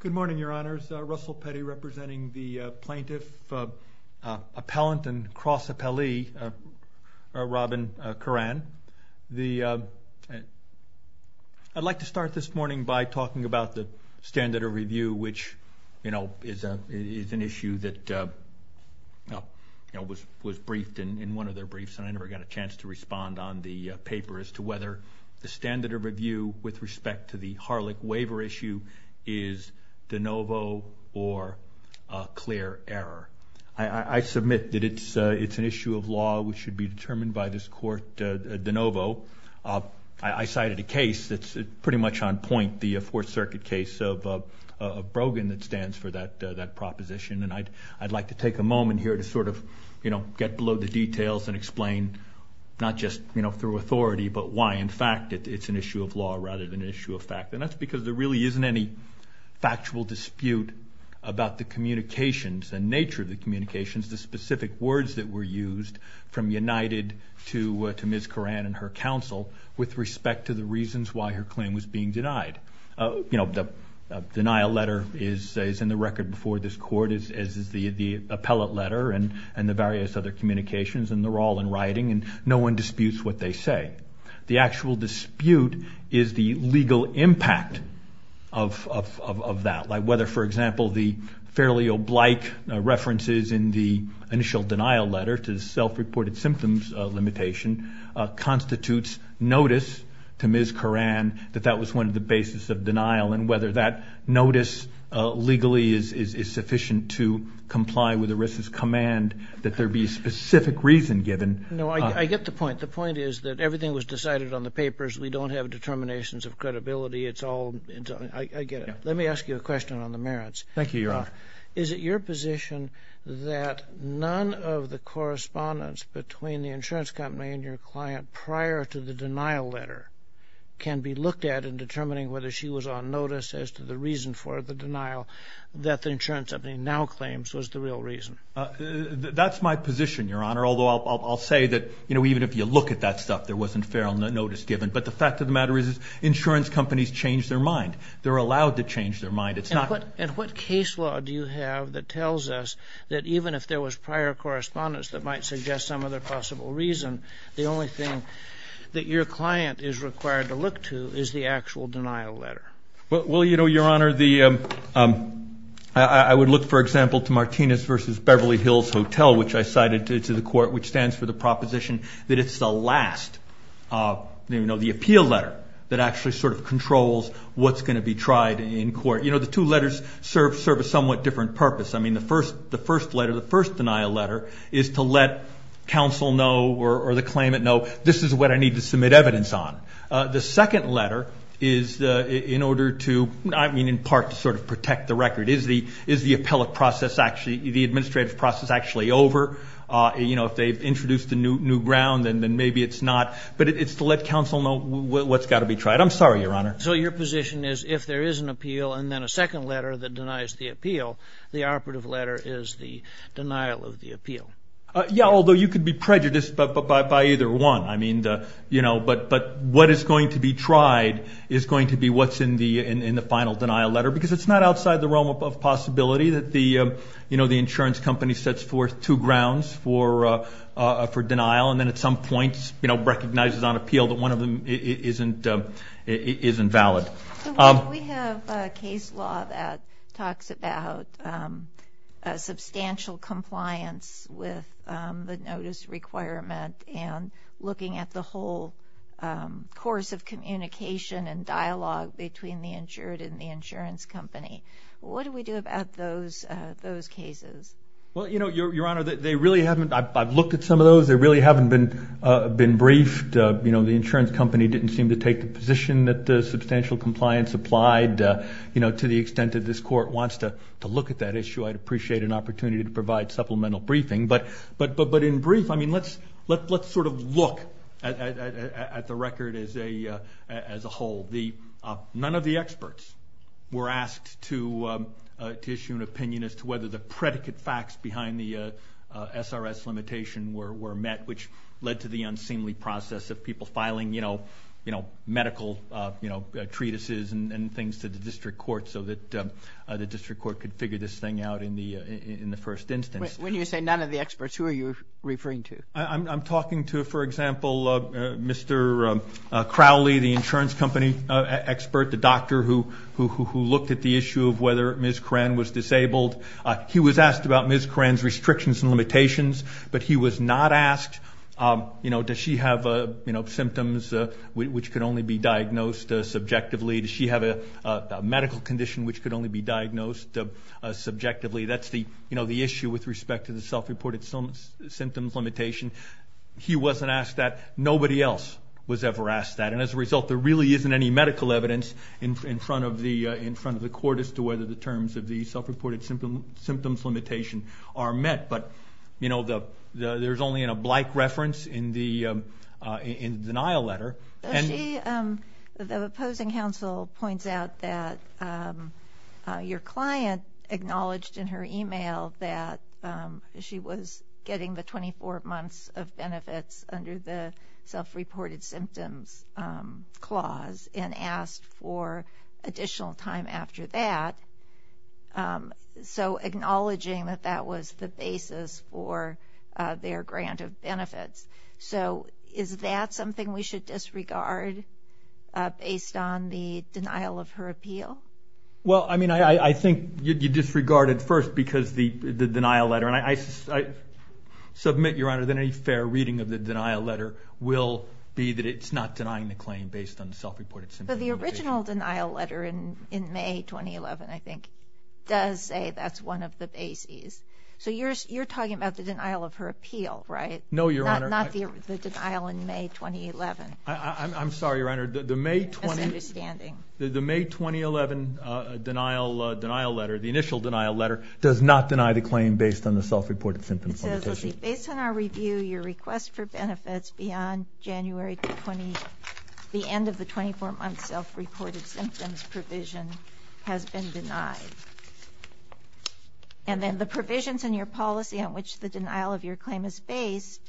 Good morning, Your Honors. Russell Petty representing the Plaintiff Appellant and Cross Appellee, Robin Curran. I'd like to start this morning by talking about the standard of review, which is an issue that was briefed in one of their briefs, and I never got a chance to respond on the paper as to whether the standard of review with respect to the Harlech waiver issue, is de novo or a clear error. I submit that it's an issue of law which should be determined by this court de novo. I cited a case that's pretty much on point, the Fourth Circuit case of Brogan that stands for that proposition, and I'd like to take a moment here to sort of get below the details and explain, not just through authority, but why in fact it's an issue of law rather than an issue of fact. That's because there really isn't any factual dispute about the communications and nature of the communications, the specific words that were used from United to Ms. Curran and her counsel, with respect to the reasons why her claim was being denied. The denial letter is in the record before this court, as is the appellate letter and the various other communications, and they're all in writing, and no one disputes what they say. The actual dispute is the legal impact of that, like whether, for example, the fairly oblique references in the initial denial letter to the self-reported symptoms limitation constitutes notice to Ms. Curran that that was one of the basis of denial, and whether that notice legally is sufficient to comply with ERISA's command that there be a specific reason given. No, I get the point. The point is that everything was decided on the papers. We don't have determinations of credibility. I get it. Let me ask you a question on the merits. Thank you, Your Honor. Is it your position that none of the correspondence between the insurance company and your client prior to the denial letter can be looked at in determining whether she was on notice as to the reason for the denial that the insurance company now claims was the real reason? That's my position, Your Honor, although I'll say that even if you look at that stuff, there wasn't feral notice given. But the fact of the matter is insurance companies change their mind. They're allowed to change their mind. And what case law do you have that tells us that even if there was prior correspondence that might suggest some other possible reason, the only thing that your client is required to look to is the actual denial letter? Well, Your Honor, I would look, for example, to Martinez v. Beverly Hills Hotel, which I cited to the court, which stands for the proposition that it's the last, the appeal letter, that actually sort of controls what's going to be tried in court. The two letters serve a somewhat different purpose. I mean, the first letter, the first denial letter, is to let counsel know or the claimant know this is what I need to submit evidence on. The second letter is in order to, I mean, in part to sort of protect the record. Is the appellate process, the administrative process, actually over? If they've introduced a new ground, then maybe it's not. But it's to let counsel know what's got to be tried. I'm sorry, Your Honor. So your position is if there is an appeal and then a second letter that denies the appeal, the operative letter is the denial of the appeal? Yeah, although you could be prejudiced by either one. I mean, but what is going to be tried is going to be what's in the final denial letter because it's not outside the realm of possibility that the insurance company sets forth two grounds for denial and then at some point recognizes on appeal that one of them isn't valid. We have a case law that talks about substantial compliance with the notice requirement and looking at the whole course of communication and dialogue between the insured and the insurance company. What do we do about those cases? Well, you know, Your Honor, they really haven't. I've looked at some of those. They really haven't been briefed. You know, the insurance company didn't seem to take the position that the substantial compliance applied, you know, to the extent that this court wants to look at that issue. I'd appreciate an opportunity to provide supplemental briefing, but in brief, I mean, let's sort of look at the record as a whole. None of the experts were asked to issue an opinion as to whether the predicate facts behind the SRS limitation were met, which led to the unseemly process of people filing, you know, medical treatises and things to the district court so that the district court could figure this thing out. When you say none of the experts, who are you referring to? I'm talking to, for example, Mr. Crowley, the insurance company expert, the doctor who looked at the issue of whether Ms. Koran was disabled. He was asked about Ms. Koran's restrictions and limitations, but he was not asked, you know, does she have symptoms which could only be diagnosed subjectively? Does she have a medical condition which could only be diagnosed subjectively? That's the, you know, the issue with respect to the self-reported symptoms limitation. He wasn't asked that. Nobody else was ever asked that, and as a result, there really isn't any medical evidence in front of the court as to whether the terms of the self-reported symptoms limitation are met. But, you know, there's only a blank reference in the denial letter. Well, I mean, I think you disregard it first because the denial letter, and I submit, Your Honor, that any fair reading of the denial letter will be that it's not denying the claim based on the self-reported symptoms limitation. The original denial letter in May 2011, I think, does say that's one of the bases. So you're talking about the denial of her appeal, right? No, Your Honor. Not the denial in May 2011. I'm sorry, Your Honor. The May 2011 denial letter, the initial denial letter, does not deny the claim based on the self-reported symptoms limitation. So, see, based on our review, your request for benefits beyond January 20, the end of the 24-month self-reported symptoms provision has been denied. And then the provisions in your policy on which the denial of your claim is based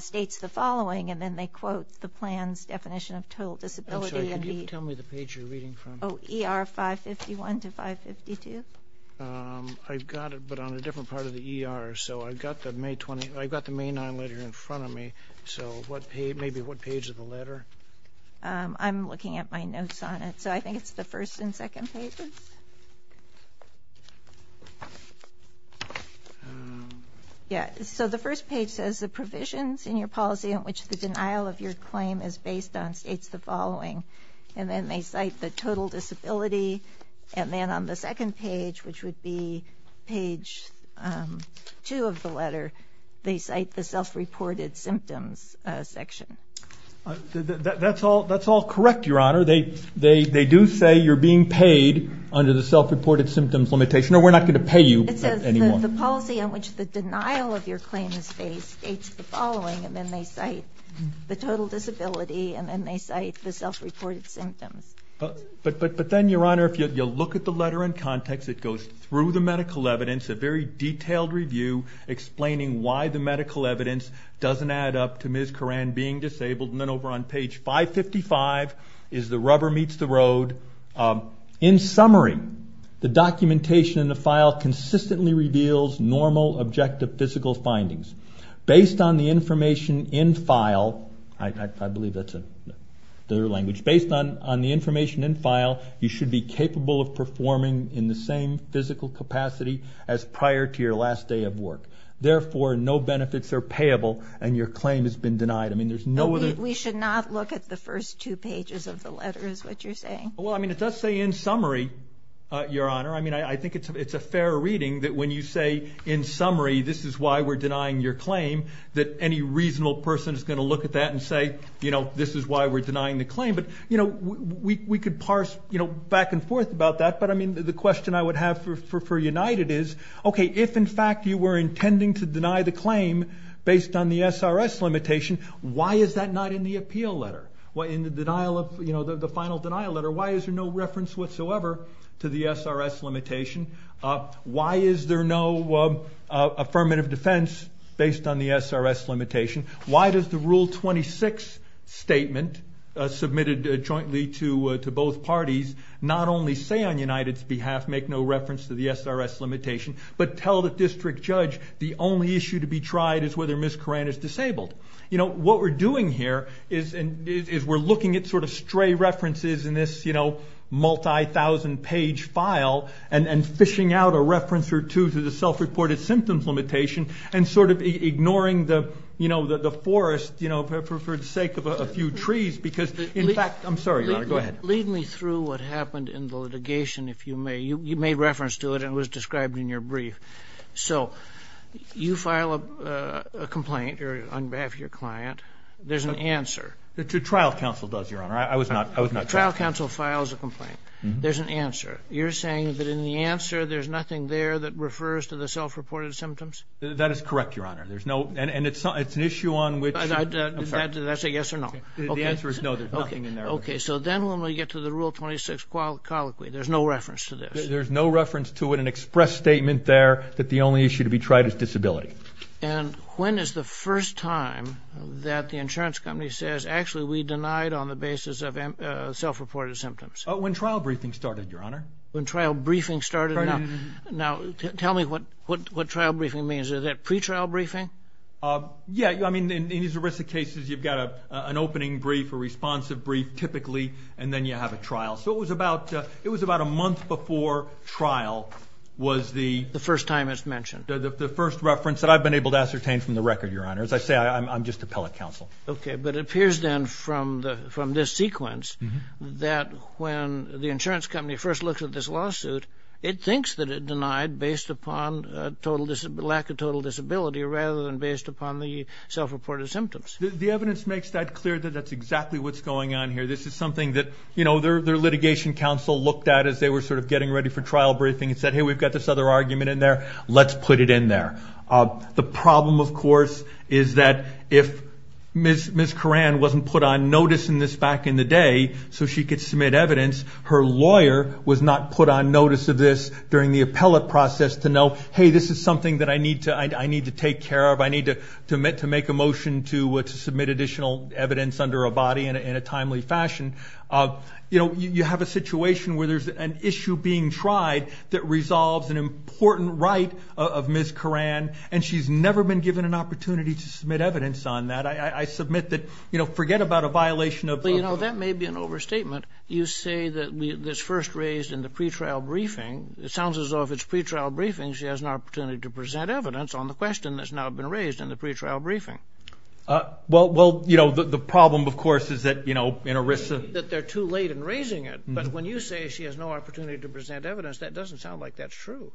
states the following, and then they quote the plan's definition of total disability. I'm sorry, could you tell me the page you're reading from? Oh, ER 551 to 552. I've got it, but on a different part of the ER, so I've got the May 9 letter in front of me, so maybe what page of the letter? I'm looking at my notes on it, so I think it's the first and second pages. Yeah, so the first page says the provisions in your policy on which the denial of your claim is based on states the following, and then they cite the total disability, and then on the second page, which would be page two of the letter, they cite the self-reported symptoms section. That's all correct, Your Honor. They do say you're being paid under the self-reported symptoms limitation, or we're not going to pay you anymore. So the policy on which the denial of your claim is based states the following, and then they cite the total disability, and then they cite the self-reported symptoms. But then, Your Honor, if you look at the letter in context, it goes through the medical evidence, a very detailed review explaining why the medical evidence doesn't add up to Ms. reveals normal, objective, physical findings. Based on the information in file, you should be capable of performing in the same physical capacity as prior to your last day of work. Therefore, no benefits are payable, and your claim has been denied. We should not look at the first two pages of the letter, is what you're saying? Well, I mean, it does say in summary, Your Honor. I mean, I think it's a fair reading that when you say, in summary, this is why we're denying your claim, that any reasonable person is going to look at that and say, you know, this is why we're denying the claim. But, you know, we could parse, you know, back and forth about that, but I mean, the question I would have for United is, okay, if in fact you were intending to deny the claim based on the SRS limitation, why is that not in the appeal letter? In the denial of, you know, the final denial letter, why is there no reference whatsoever to the SRS limitation? Why is there no affirmative defense based on the SRS limitation? Why does the Rule 26 statement submitted jointly to both parties not only say on United's behalf, make no reference to the SRS limitation, but tell the district judge the only issue to be tried is whether Ms. Koran is disabled? You know, what we're doing here is we're looking at sort of stray references in this, you know, multi-thousand page file and fishing out a reference or two to the self-reported symptoms limitation and sort of ignoring the, you know, the forest, you know, for the sake of a few trees because, in fact, I'm sorry, Your Honor, go ahead. Lead me through what happened in the litigation, if you may. You made reference to it and it was described in your brief. So you file a complaint on behalf of your client. There's an answer. The trial counsel does, Your Honor. I was not. The trial counsel files a complaint. There's an answer. You're saying that in the answer there's nothing there that refers to the self-reported symptoms? That is correct, Your Honor. There's no, and it's an issue on which. Did I say yes or no? The answer is no, there's nothing in there. Okay, so then when we get to the Rule 26 colloquy, there's no reference to this? There's no reference to it. An express statement there that the only issue to be tried is disability. And when is the first time that the insurance company says, actually, we denied on the basis of self-reported symptoms? When trial briefing started, Your Honor. When trial briefing started. Now, tell me what trial briefing means. Is that pretrial briefing? Yeah, I mean, in these ERISA cases, you've got an opening brief, a responsive brief, typically, and then you have a trial. So it was about a month before trial was the... The first time it's mentioned. The first reference that I've been able to ascertain from the record, Your Honor. As I say, I'm just a appellate counsel. Okay, but it appears then from this sequence that when the insurance company first looks at this lawsuit, it thinks that it denied based upon lack of total disability rather than based upon the self-reported symptoms. The evidence makes that clear that that's exactly what's going on here. This is something that, you know, their litigation counsel looked at as they were sort of getting ready for trial briefing and said, hey, we've got this other argument in there. Let's put it in there. The problem, of course, is that if Ms. Coran wasn't put on notice in this back in the day so she could submit evidence, her lawyer was not put on notice of this during the appellate process to know, hey, this is something that I need to take care of. I need to make a motion to submit additional evidence under a body in a timely fashion. You know, you have a situation where there's an issue being tried that resolves an important right of Ms. Coran, and she's never been given an opportunity to submit evidence on that. I submit that, you know, forget about a violation of... Well, you know, that may be an overstatement. You say that it's first raised in the pretrial briefing. It sounds as though if it's pretrial briefing, she has an opportunity to present evidence on the question that's now been raised in the pretrial briefing. Well, you know, the problem, of course, is that, you know, in ERISA... That they're too late in raising it. But when you say she has no opportunity to present evidence, that doesn't sound like that's true.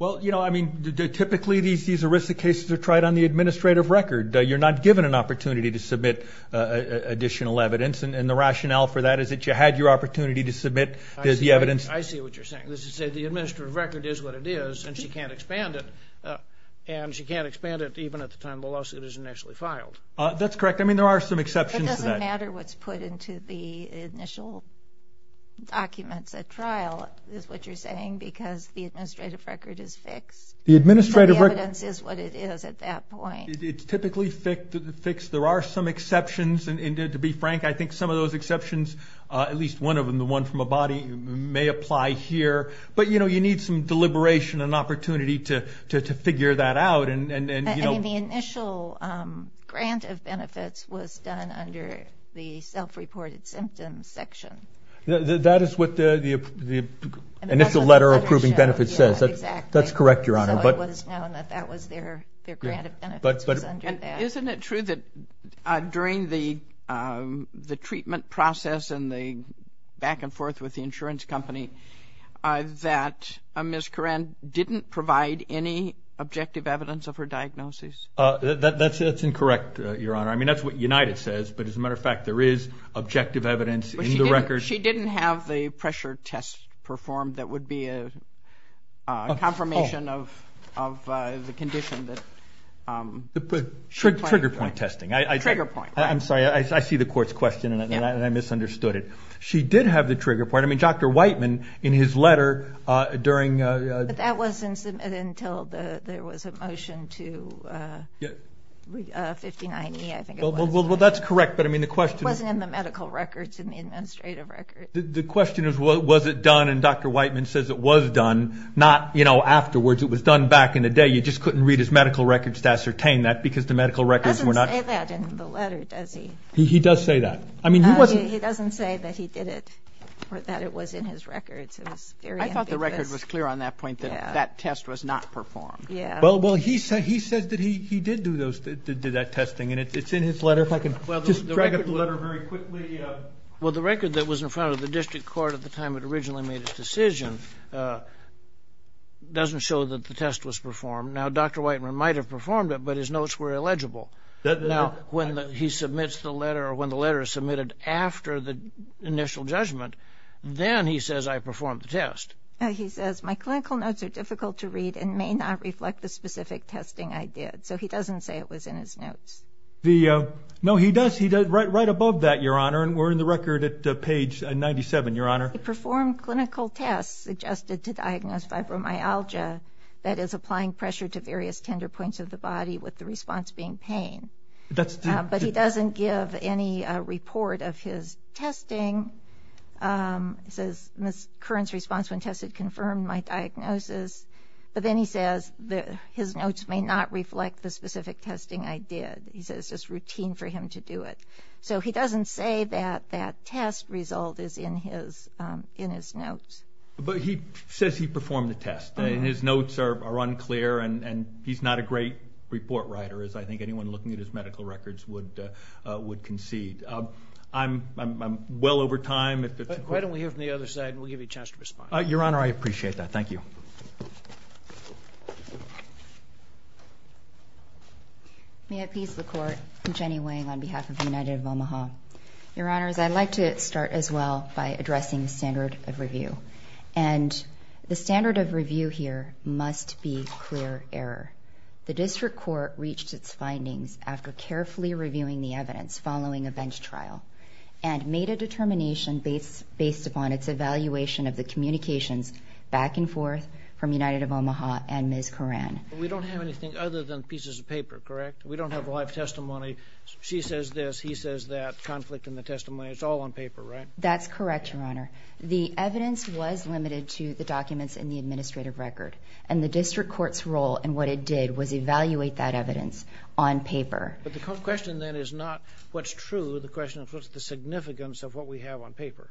Well, you know, I mean, typically these ERISA cases are tried on the administrative record. You're not given an opportunity to submit additional evidence, and the rationale for that is that you had your opportunity to submit the evidence. I see what you're saying. This is to say the administrative record is what it is, and she can't expand it. And she can't expand it even at the time the lawsuit is initially filed. That's correct. I mean, there are some exceptions to that. It doesn't matter what's put into the initial documents at trial, is what you're saying, because the administrative record is fixed. The administrative record... So the evidence is what it is at that point. It's typically fixed. There are some exceptions. And to be frank, I think some of those exceptions, at least one of them, the one from a body, may apply here. But, you know, you need some deliberation and opportunity to figure that out. I mean, the initial grant of benefits was done under the self-reported symptoms section. That is what the initial letter approving benefits says. Exactly. That's correct, Your Honor. So it was known that that was their grant of benefits was under that. And isn't it true that during the treatment process and the back and forth with the insurance company, that Ms. Koran didn't provide any objective evidence of her diagnosis? That's incorrect, Your Honor. I mean, that's what United says. But as a matter of fact, there is objective evidence in the records. She didn't have the pressure test performed that would be a confirmation of the condition. Trigger point testing. Trigger point. I'm sorry. I see the court's question, and I misunderstood it. She did have the trigger point. I mean, Dr. Whiteman, in his letter during the. But that wasn't submitted until there was a motion to 5090, I think it was. Well, that's correct. But I mean, the question. It wasn't in the medical records, in the administrative records. The question is, was it done? And Dr. Whiteman says it was done. Not, you know, afterwards. It was done back in the day. You just couldn't read his medical records to ascertain that because the medical records were not. He doesn't say that in the letter, does he? He does say that. I mean, he wasn't. He doesn't say that he did it or that it was in his records. It was very ambiguous. I thought the record was clear on that point that that test was not performed. Yeah. Well, he said that he did do that testing, and it's in his letter. If I can just drag up the letter very quickly. Well, the record that was in front of the district court at the time it originally made its decision doesn't show that the test was performed. Now, Dr. Whiteman might have performed it, but his notes were illegible. Now, when he submits the letter or when the letter is submitted after the initial judgment, then he says, I performed the test. He says, my clinical notes are difficult to read and may not reflect the specific testing I did. So he doesn't say it was in his notes. No, he does. Right above that, Your Honor, and we're in the record at page 97, Your Honor. He performed clinical tests suggested to diagnose fibromyalgia, that is applying pressure to various tender points of the body with the response being pain. But he doesn't give any report of his testing. He says, Ms. Curran's response when tested confirmed my diagnosis. But then he says his notes may not reflect the specific testing I did. He says it's just routine for him to do it. So he doesn't say that that test result is in his notes. But he says he performed the test, and his notes are unclear, and he's not a great report writer as I think anyone looking at his medical records would concede. I'm well over time. Why don't we hear from the other side, and we'll give you a chance to respond. Your Honor, I appreciate that. Thank you. May it please the Court, I'm Jenny Wang on behalf of the United of Omaha. Your Honors, I'd like to start as well by addressing the standard of review. And the standard of review here must be clear error. The district court reached its findings after carefully reviewing the evidence following a bench trial and made a determination based upon its evaluation of the communications back and forth from United of Omaha and Ms. Coran. But we don't have anything other than pieces of paper, correct? We don't have live testimony. She says this, he says that, conflict in the testimony. It's all on paper, right? That's correct, Your Honor. The evidence was limited to the documents in the administrative record. And the district court's role in what it did was evaluate that evidence on paper. But the question then is not what's true. The question is what's the significance of what we have on paper.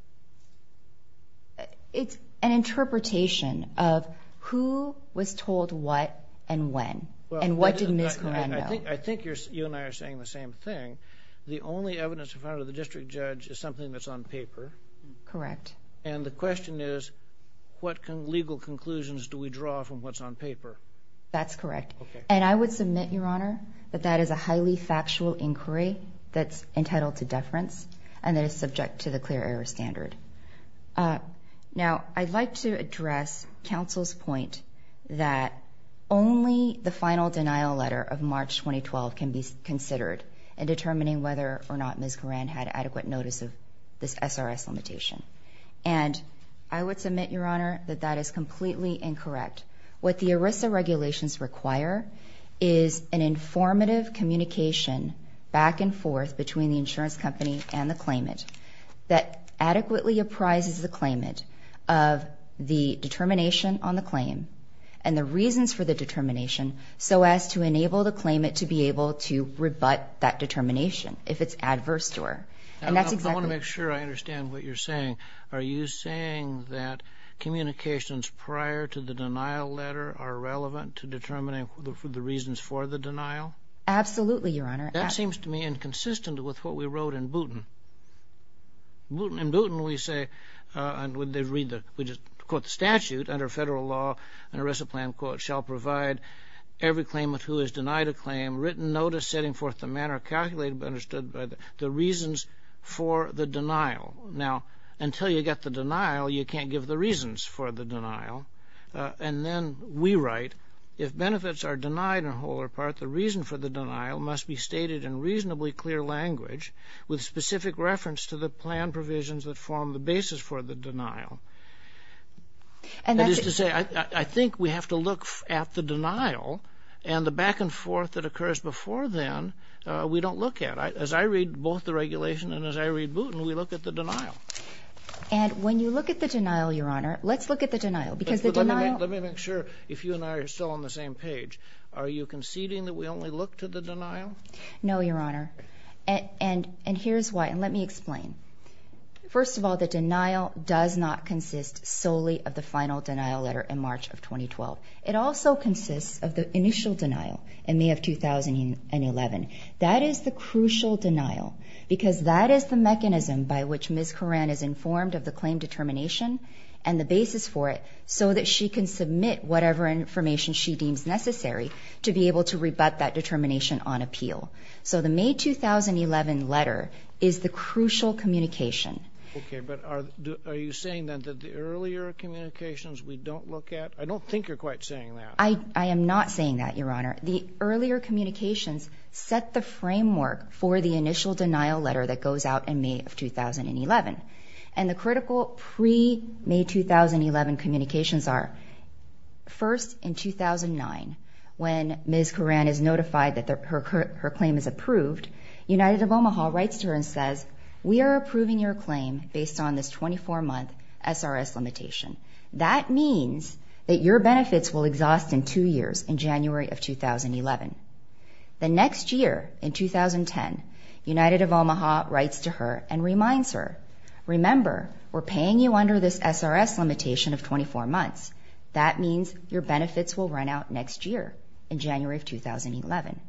It's an interpretation of who was told what and when. And what did Ms. Coran know? I think you and I are saying the same thing. The only evidence we found of the district judge is something that's on paper. Correct. And the question is what legal conclusions do we draw from what's on paper? That's correct. And I would submit, Your Honor, that that is a highly factual inquiry that's entitled to deference and that is subject to the clear error standard. Now, I'd like to address counsel's point that only the final denial letter of March 2012 can be considered in determining whether or not Ms. Coran had adequate notice of this SRS limitation. And I would submit, Your Honor, that that is completely incorrect. What the ERISA regulations require is an informative communication back and forth between the insurance company and the claimant that adequately apprises the claimant of the determination on the claim and the reasons for the determination so as to enable the claimant to be able to rebut that determination if it's adverse to her. I want to make sure I understand what you're saying. Are you saying that communications prior to the denial letter are relevant to determining the reasons for the denial? Absolutely, Your Honor. That seems to me inconsistent with what we wrote in Booton. In Booton we say, and we just quote the statute, under federal law an ERISA plan quote shall provide every claimant who is denied a claim written notice setting forth the manner calculated and understood by the reasons for the denial. Now, until you get the denial, you can't give the reasons for the denial. And then we write, if benefits are denied in whole or part, the reason for the denial must be stated in reasonably clear language with specific reference to the plan provisions that form the basis for the denial. That is to say, I think we have to look at the denial and the back and forth that occurs before then we don't look at. As I read both the regulation and as I read Booton, we look at the denial. And when you look at the denial, Your Honor, let's look at the denial. Let me make sure, if you and I are still on the same page, are you conceding that we only look to the denial? No, Your Honor. And here's why, and let me explain. First of all, the denial does not consist solely of the final denial letter in March of 2012. It also consists of the initial denial in May of 2011. That is the crucial denial because that is the mechanism by which Ms. Koran is informed of the claim determination and the basis for it so that she can submit whatever information she deems necessary to be able to rebut that determination on appeal. So the May 2011 letter is the crucial communication. Okay, but are you saying that the earlier communications we don't look at? I don't think you're quite saying that. I am not saying that, Your Honor. The earlier communications set the framework for the initial denial letter that goes out in May of 2011. And the critical pre-May 2011 communications are, first, in 2009, when Ms. Koran is notified that her claim is approved, United of Omaha writes to her and says, We are approving your claim based on this 24-month SRS limitation. That means that your benefits will exhaust in two years in January of 2011. The next year, in 2010, United of Omaha writes to her and reminds her, Remember, we're paying you under this SRS limitation of 24 months. That means your benefits will run out next year in January of 2011.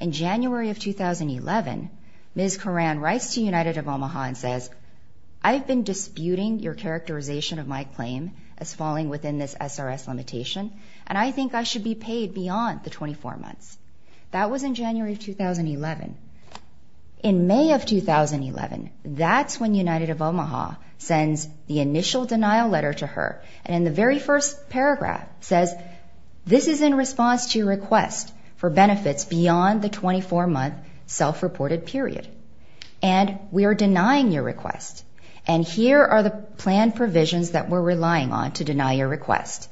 In January of 2011, Ms. Koran writes to United of Omaha and says, I've been disputing your characterization of my claim as falling within this SRS limitation, and I think I should be paid beyond the 24 months. That was in January of 2011. In May of 2011, that's when United of Omaha sends the initial denial letter to her, and in the very first paragraph says, This is in response to your request for benefits beyond the 24-month self-reported period. And we are denying your request, and here are the planned provisions that we're relying on to deny your request.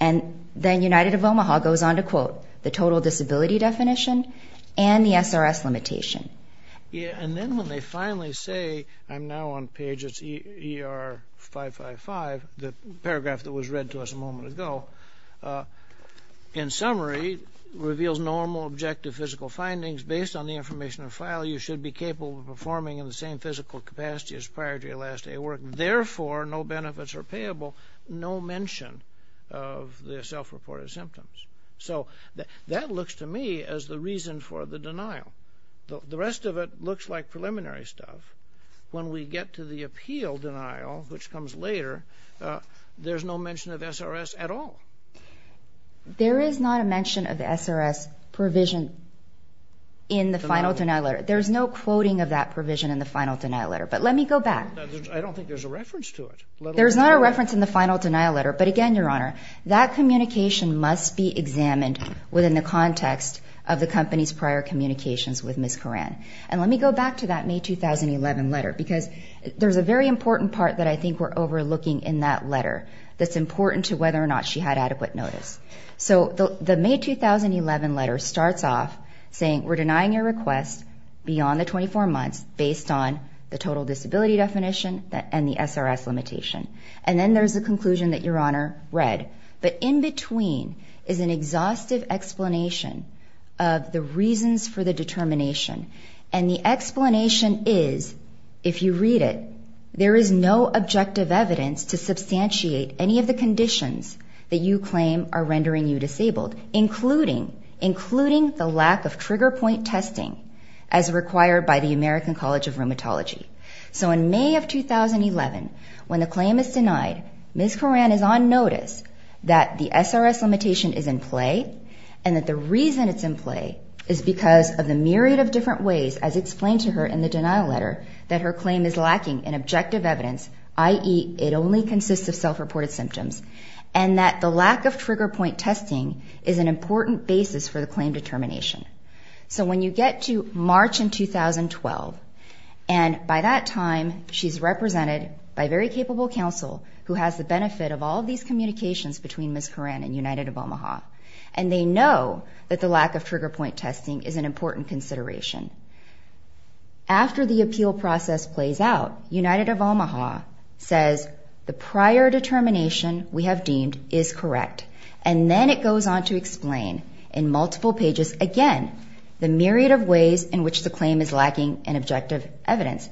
And then United of Omaha goes on to quote, The total disability definition and the SRS limitation. And then when they finally say, I'm now on page ER555, the paragraph that was read to us a moment ago, in summary, reveals normal objective physical findings. Based on the information in the file, you should be capable of performing in the same physical capacity as prior to your last day of work. Therefore, no benefits are payable. No mention of the self-reported symptoms. So that looks to me as the reason for the denial. The rest of it looks like preliminary stuff. When we get to the appeal denial, which comes later, there's no mention of SRS at all. There is not a mention of the SRS provision in the final denial letter. There's no quoting of that provision in the final denial letter. But let me go back. I don't think there's a reference to it. There's not a reference in the final denial letter, but again, Your Honor, that communication must be examined within the context of the company's prior communications with Ms. Coran. And let me go back to that May 2011 letter, because there's a very important part that I think we're overlooking in that letter that's important to whether or not she had adequate notice. So the May 2011 letter starts off saying, we're denying your request beyond the 24 months based on the total disability definition and the SRS limitation. And then there's a conclusion that Your Honor read. But in between is an exhaustive explanation of the reasons for the determination. And the explanation is, if you read it, there is no objective evidence to substantiate any of the conditions that you claim are rendering you disabled, including the lack of trigger point testing as required by the American College of Rheumatology. So in May of 2011, when the claim is denied, Ms. Coran is on notice that the SRS limitation is in play and that the reason it's in play is because of the myriad of different ways, as explained to her in the denial letter, that her claim is lacking in objective evidence, i.e. it only consists of self-reported symptoms, and that the lack of trigger point testing is an important basis for the claim determination. So when you get to March in 2012, and by that time, she's represented by a very capable counsel who has the benefit of all of these communications between Ms. Coran and United of Omaha, and they know that the lack of trigger point testing is an important consideration. After the appeal process plays out, United of Omaha says, the prior determination we have deemed is correct. And then it goes on to explain in multiple pages, again, the myriad of ways in which the claim is lacking in objective evidence,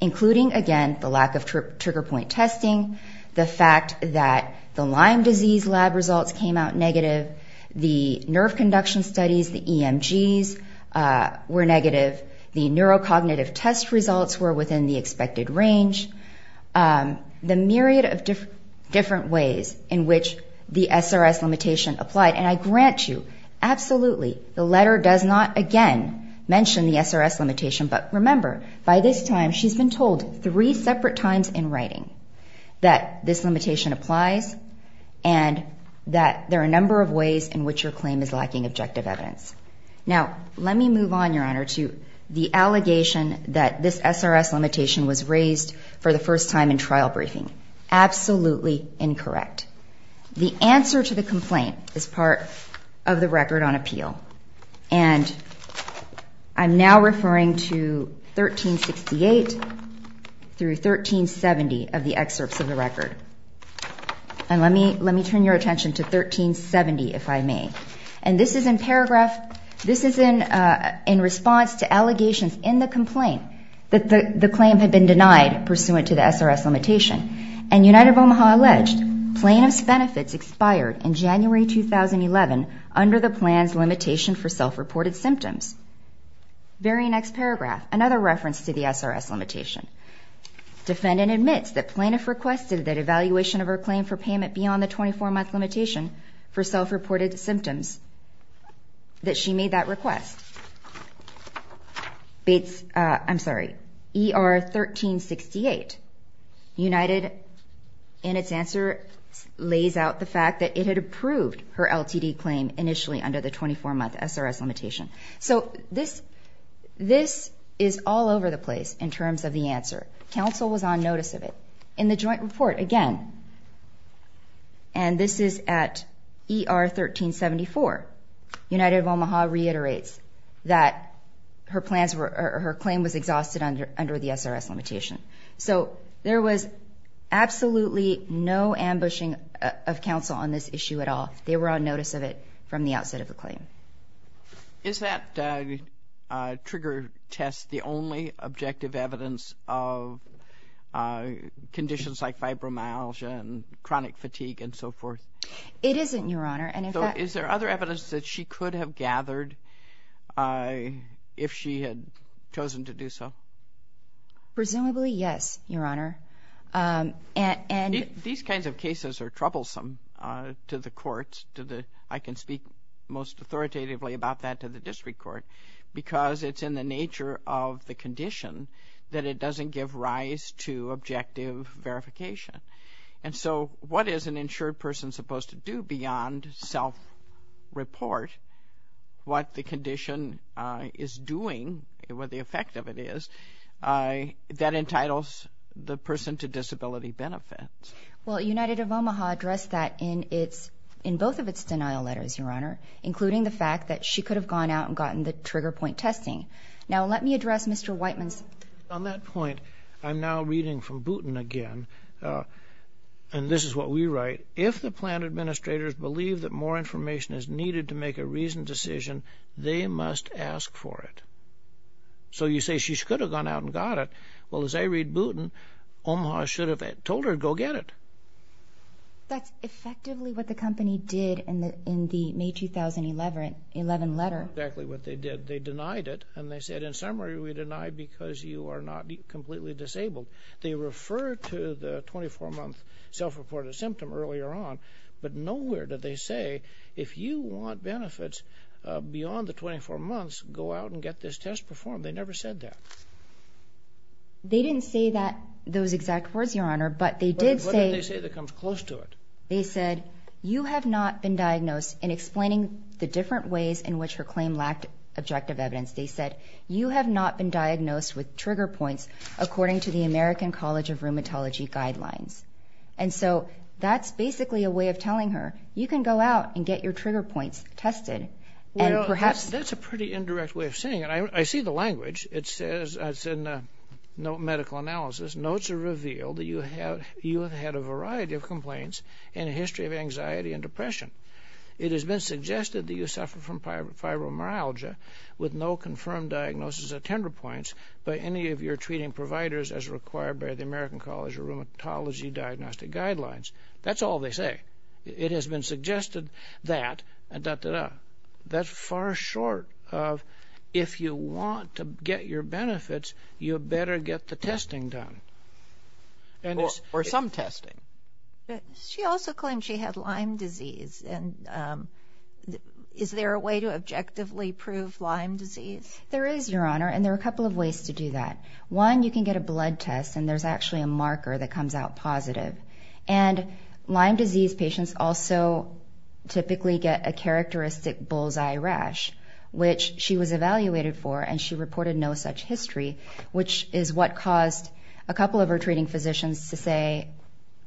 including, again, the lack of trigger point testing, the fact that the Lyme disease lab results came out negative, the nerve conduction studies, the EMGs, were negative, the neurocognitive test results were within the expected range, the myriad of different ways in which the SRS limitation applied. And I grant you, absolutely, the letter does not, again, mention the SRS limitation, but remember, by this time, she's been told three separate times in writing that this limitation applies and that there are a number of ways in which your claim is lacking objective evidence. Now, let me move on, Your Honor, to the allegation that this SRS limitation was raised for the first time in trial briefing. Absolutely incorrect. The answer to the complaint is part of the record on appeal. And I'm now referring to 1368 through 1370 of the excerpts of the record. And let me turn your attention to 1370, if I may. And this is in paragraph, this is in response to allegations in the complaint that the claim had been denied pursuant to the SRS limitation. And United of Omaha alleged plaintiff's benefits expired in January 2011 under the plan's limitation for self-reported symptoms. Very next paragraph, another reference to the SRS limitation. Defendant admits that plaintiff requested that evaluation of her claim for payment beyond the 24-month limitation for self-reported symptoms, that she made that request. ER 1368. United, in its answer, lays out the fact that it had approved her LTD claim initially under the 24-month SRS limitation. So this is all over the place in terms of the answer. Counsel was on notice of it. In the joint report, again, and this is at ER 1374, United of Omaha reiterates that her claim was exhausted under the SRS limitation. So there was absolutely no ambushing of counsel on this issue at all. They were on notice of it from the outset of the claim. Is that trigger test the only objective evidence of conditions like fibromyalgia and chronic fatigue and so forth? It isn't, Your Honor. So is there other evidence that she could have gathered if she had chosen to do so? Presumably, yes, Your Honor. These kinds of cases are troublesome to the courts. I can speak most authoritatively about that to the district court because it's in the nature of the condition that it doesn't give rise to objective verification. And so what is an insured person supposed to do beyond self-report what the condition is doing, what the effect of it is, that entitles the person to disability benefits? Well, United of Omaha addressed that in both of its denial letters, Your Honor, including the fact that she could have gone out and gotten the trigger point testing. Now let me address Mr. Whiteman's. On that point, I'm now reading from Booten again, and this is what we write. If the plan administrators believe that more information is needed to make a reasoned decision, they must ask for it. So you say she could have gone out and got it. Well, as I read Booten, Omaha should have told her to go get it. That's effectively what the company did in the May 2011 letter. Exactly what they did. They denied it, and they said, in summary, we deny because you are not completely disabled. They referred to the 24-month self-reported symptom earlier on, but nowhere did they say if you want benefits beyond the 24 months, go out and get this test performed. They never said that. They didn't say those exact words, Your Honor, but they did say you have not been diagnosed, and explaining the different ways in which her claim lacked objective evidence, they said you have not been diagnosed with trigger points according to the American College of Rheumatology guidelines. And so that's basically a way of telling her you can go out and get your trigger points tested. That's a pretty indirect way of saying it. I see the language. It says in the medical analysis, notes are revealed that you have had a variety of complaints and a history of anxiety and depression. It has been suggested that you suffer from fibromyalgia with no confirmed diagnosis of tender points by any of your treating providers as required by the American College of Rheumatology diagnostic guidelines. That's all they say. It has been suggested that, da-da-da. That's far short of if you want to get your benefits, you better get the testing done. Or some testing. She also claimed she had Lyme disease. Is there a way to objectively prove Lyme disease? There is, Your Honor, and there are a couple of ways to do that. One, you can get a blood test, and there's actually a marker that comes out positive. And Lyme disease patients also typically get a characteristic bull's-eye rash, which she was evaluated for, and she reported no such history, which is what caused a couple of her treating physicians to say,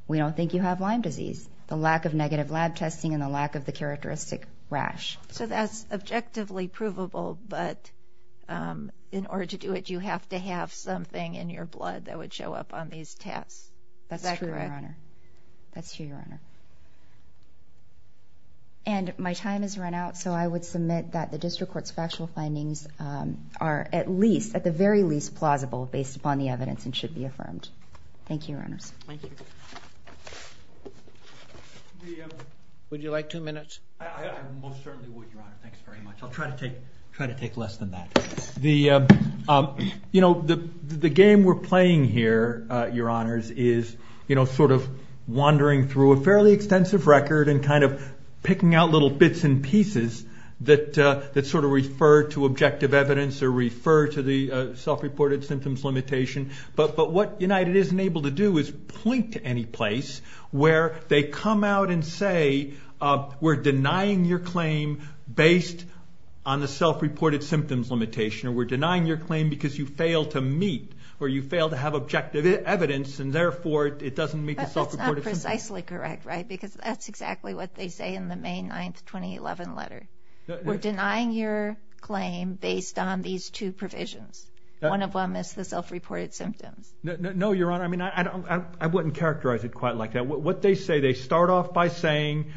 we don't think you have Lyme disease. The lack of negative lab testing and the lack of the characteristic rash. So that's objectively provable, but in order to do it you have to have something in your blood that would show up on these tests. Is that correct? That's true, Your Honor. That's true, Your Honor. And my time has run out, so I would submit that the district court's factual findings are at least, at the very least plausible based upon the evidence and should be affirmed. Thank you, Your Honors. Thank you. Would you like two minutes? I most certainly would, Your Honor. Thanks very much. I'll try to take less than that. The game we're playing here, Your Honors, is sort of wandering through a fairly extensive record and kind of picking out little bits and pieces that sort of refer to objective evidence or refer to the self-reported symptoms limitation. But what United isn't able to do is point to any place where they come out and say, we're denying your claim based on the self-reported symptoms limitation, or we're denying your claim because you fail to meet or you fail to have objective evidence and, therefore, it doesn't meet the self-reported symptoms. That's not precisely correct, right? Because that's exactly what they say in the May 9, 2011 letter. We're denying your claim based on these two provisions. One of them is the self-reported symptoms. No, Your Honor. I mean, I wouldn't characterize it quite like that. What they say, they start off by saying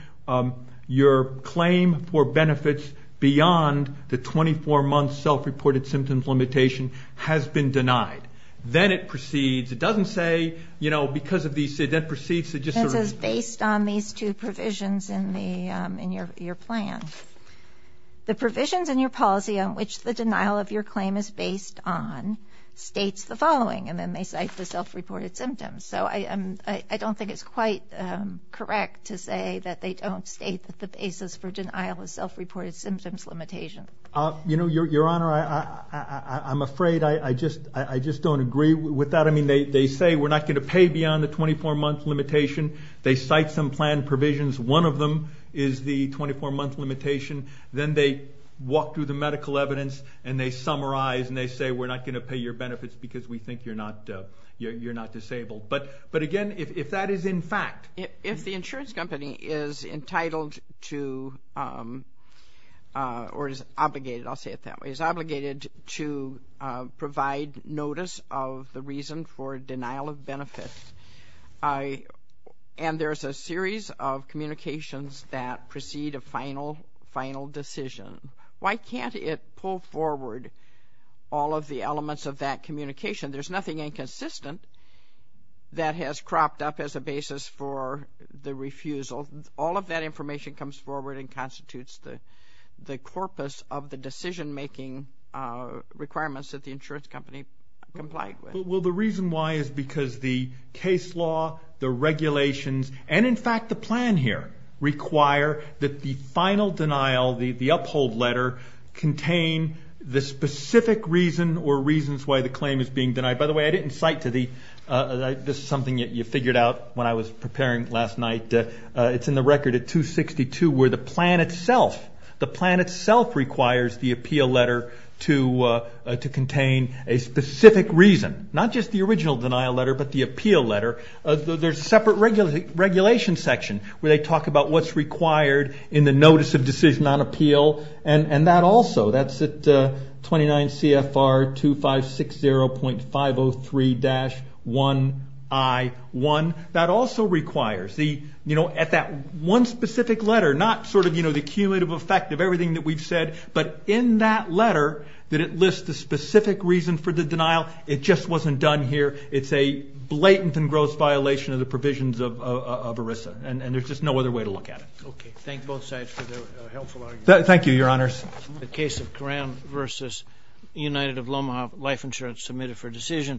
your claim for benefits beyond the 24-month self-reported symptoms limitation has been denied. Then it proceeds. It doesn't say, you know, because of these, it then proceeds to just sort of... It says based on these two provisions in your plan. The provisions in your policy on which the denial of your claim is based on states the following, and then they cite the self-reported symptoms. So I don't think it's quite correct to say that they don't state that the basis for denial is self-reported symptoms limitation. You know, Your Honor, I'm afraid I just don't agree with that. I mean, they say we're not going to pay beyond the 24-month limitation. They cite some plan provisions. One of them is the 24-month limitation. Then they walk through the medical evidence, and they summarize, and they say we're not going to pay your benefits because we think you're not disabled. But, again, if that is in fact... If the insurance company is entitled to, or is obligated, I'll say it that way, is obligated to provide notice of the reason for denial of benefits. And there's a series of communications that precede a final decision. Why can't it pull forward all of the elements of that communication? There's nothing inconsistent that has cropped up as a basis for the refusal. All of that information comes forward and constitutes the corpus of the decision-making requirements that the insurance company complied with. Well, the reason why is because the case law, the regulations, and, in fact, the plan here, require that the final denial, the uphold letter, contain the specific reason or reasons why the claim is being denied. By the way, I didn't cite to the... It's in the record at 262 where the plan itself requires the appeal letter to contain a specific reason. Not just the original denial letter, but the appeal letter. There's a separate regulation section where they talk about what's required in the notice of decision on appeal. And that also, that's at 29 CFR 2560.503-1I1. That also requires, you know, at that one specific letter, not sort of the cumulative effect of everything that we've said, but in that letter that it lists the specific reason for the denial. It just wasn't done here. It's a blatant and gross violation of the provisions of ERISA, and there's just no other way to look at it. Okay. Thank both sides for their helpful arguments. Thank you, Your Honors. The case of Graham v. United of Lomaha Life Insurance submitted for decision.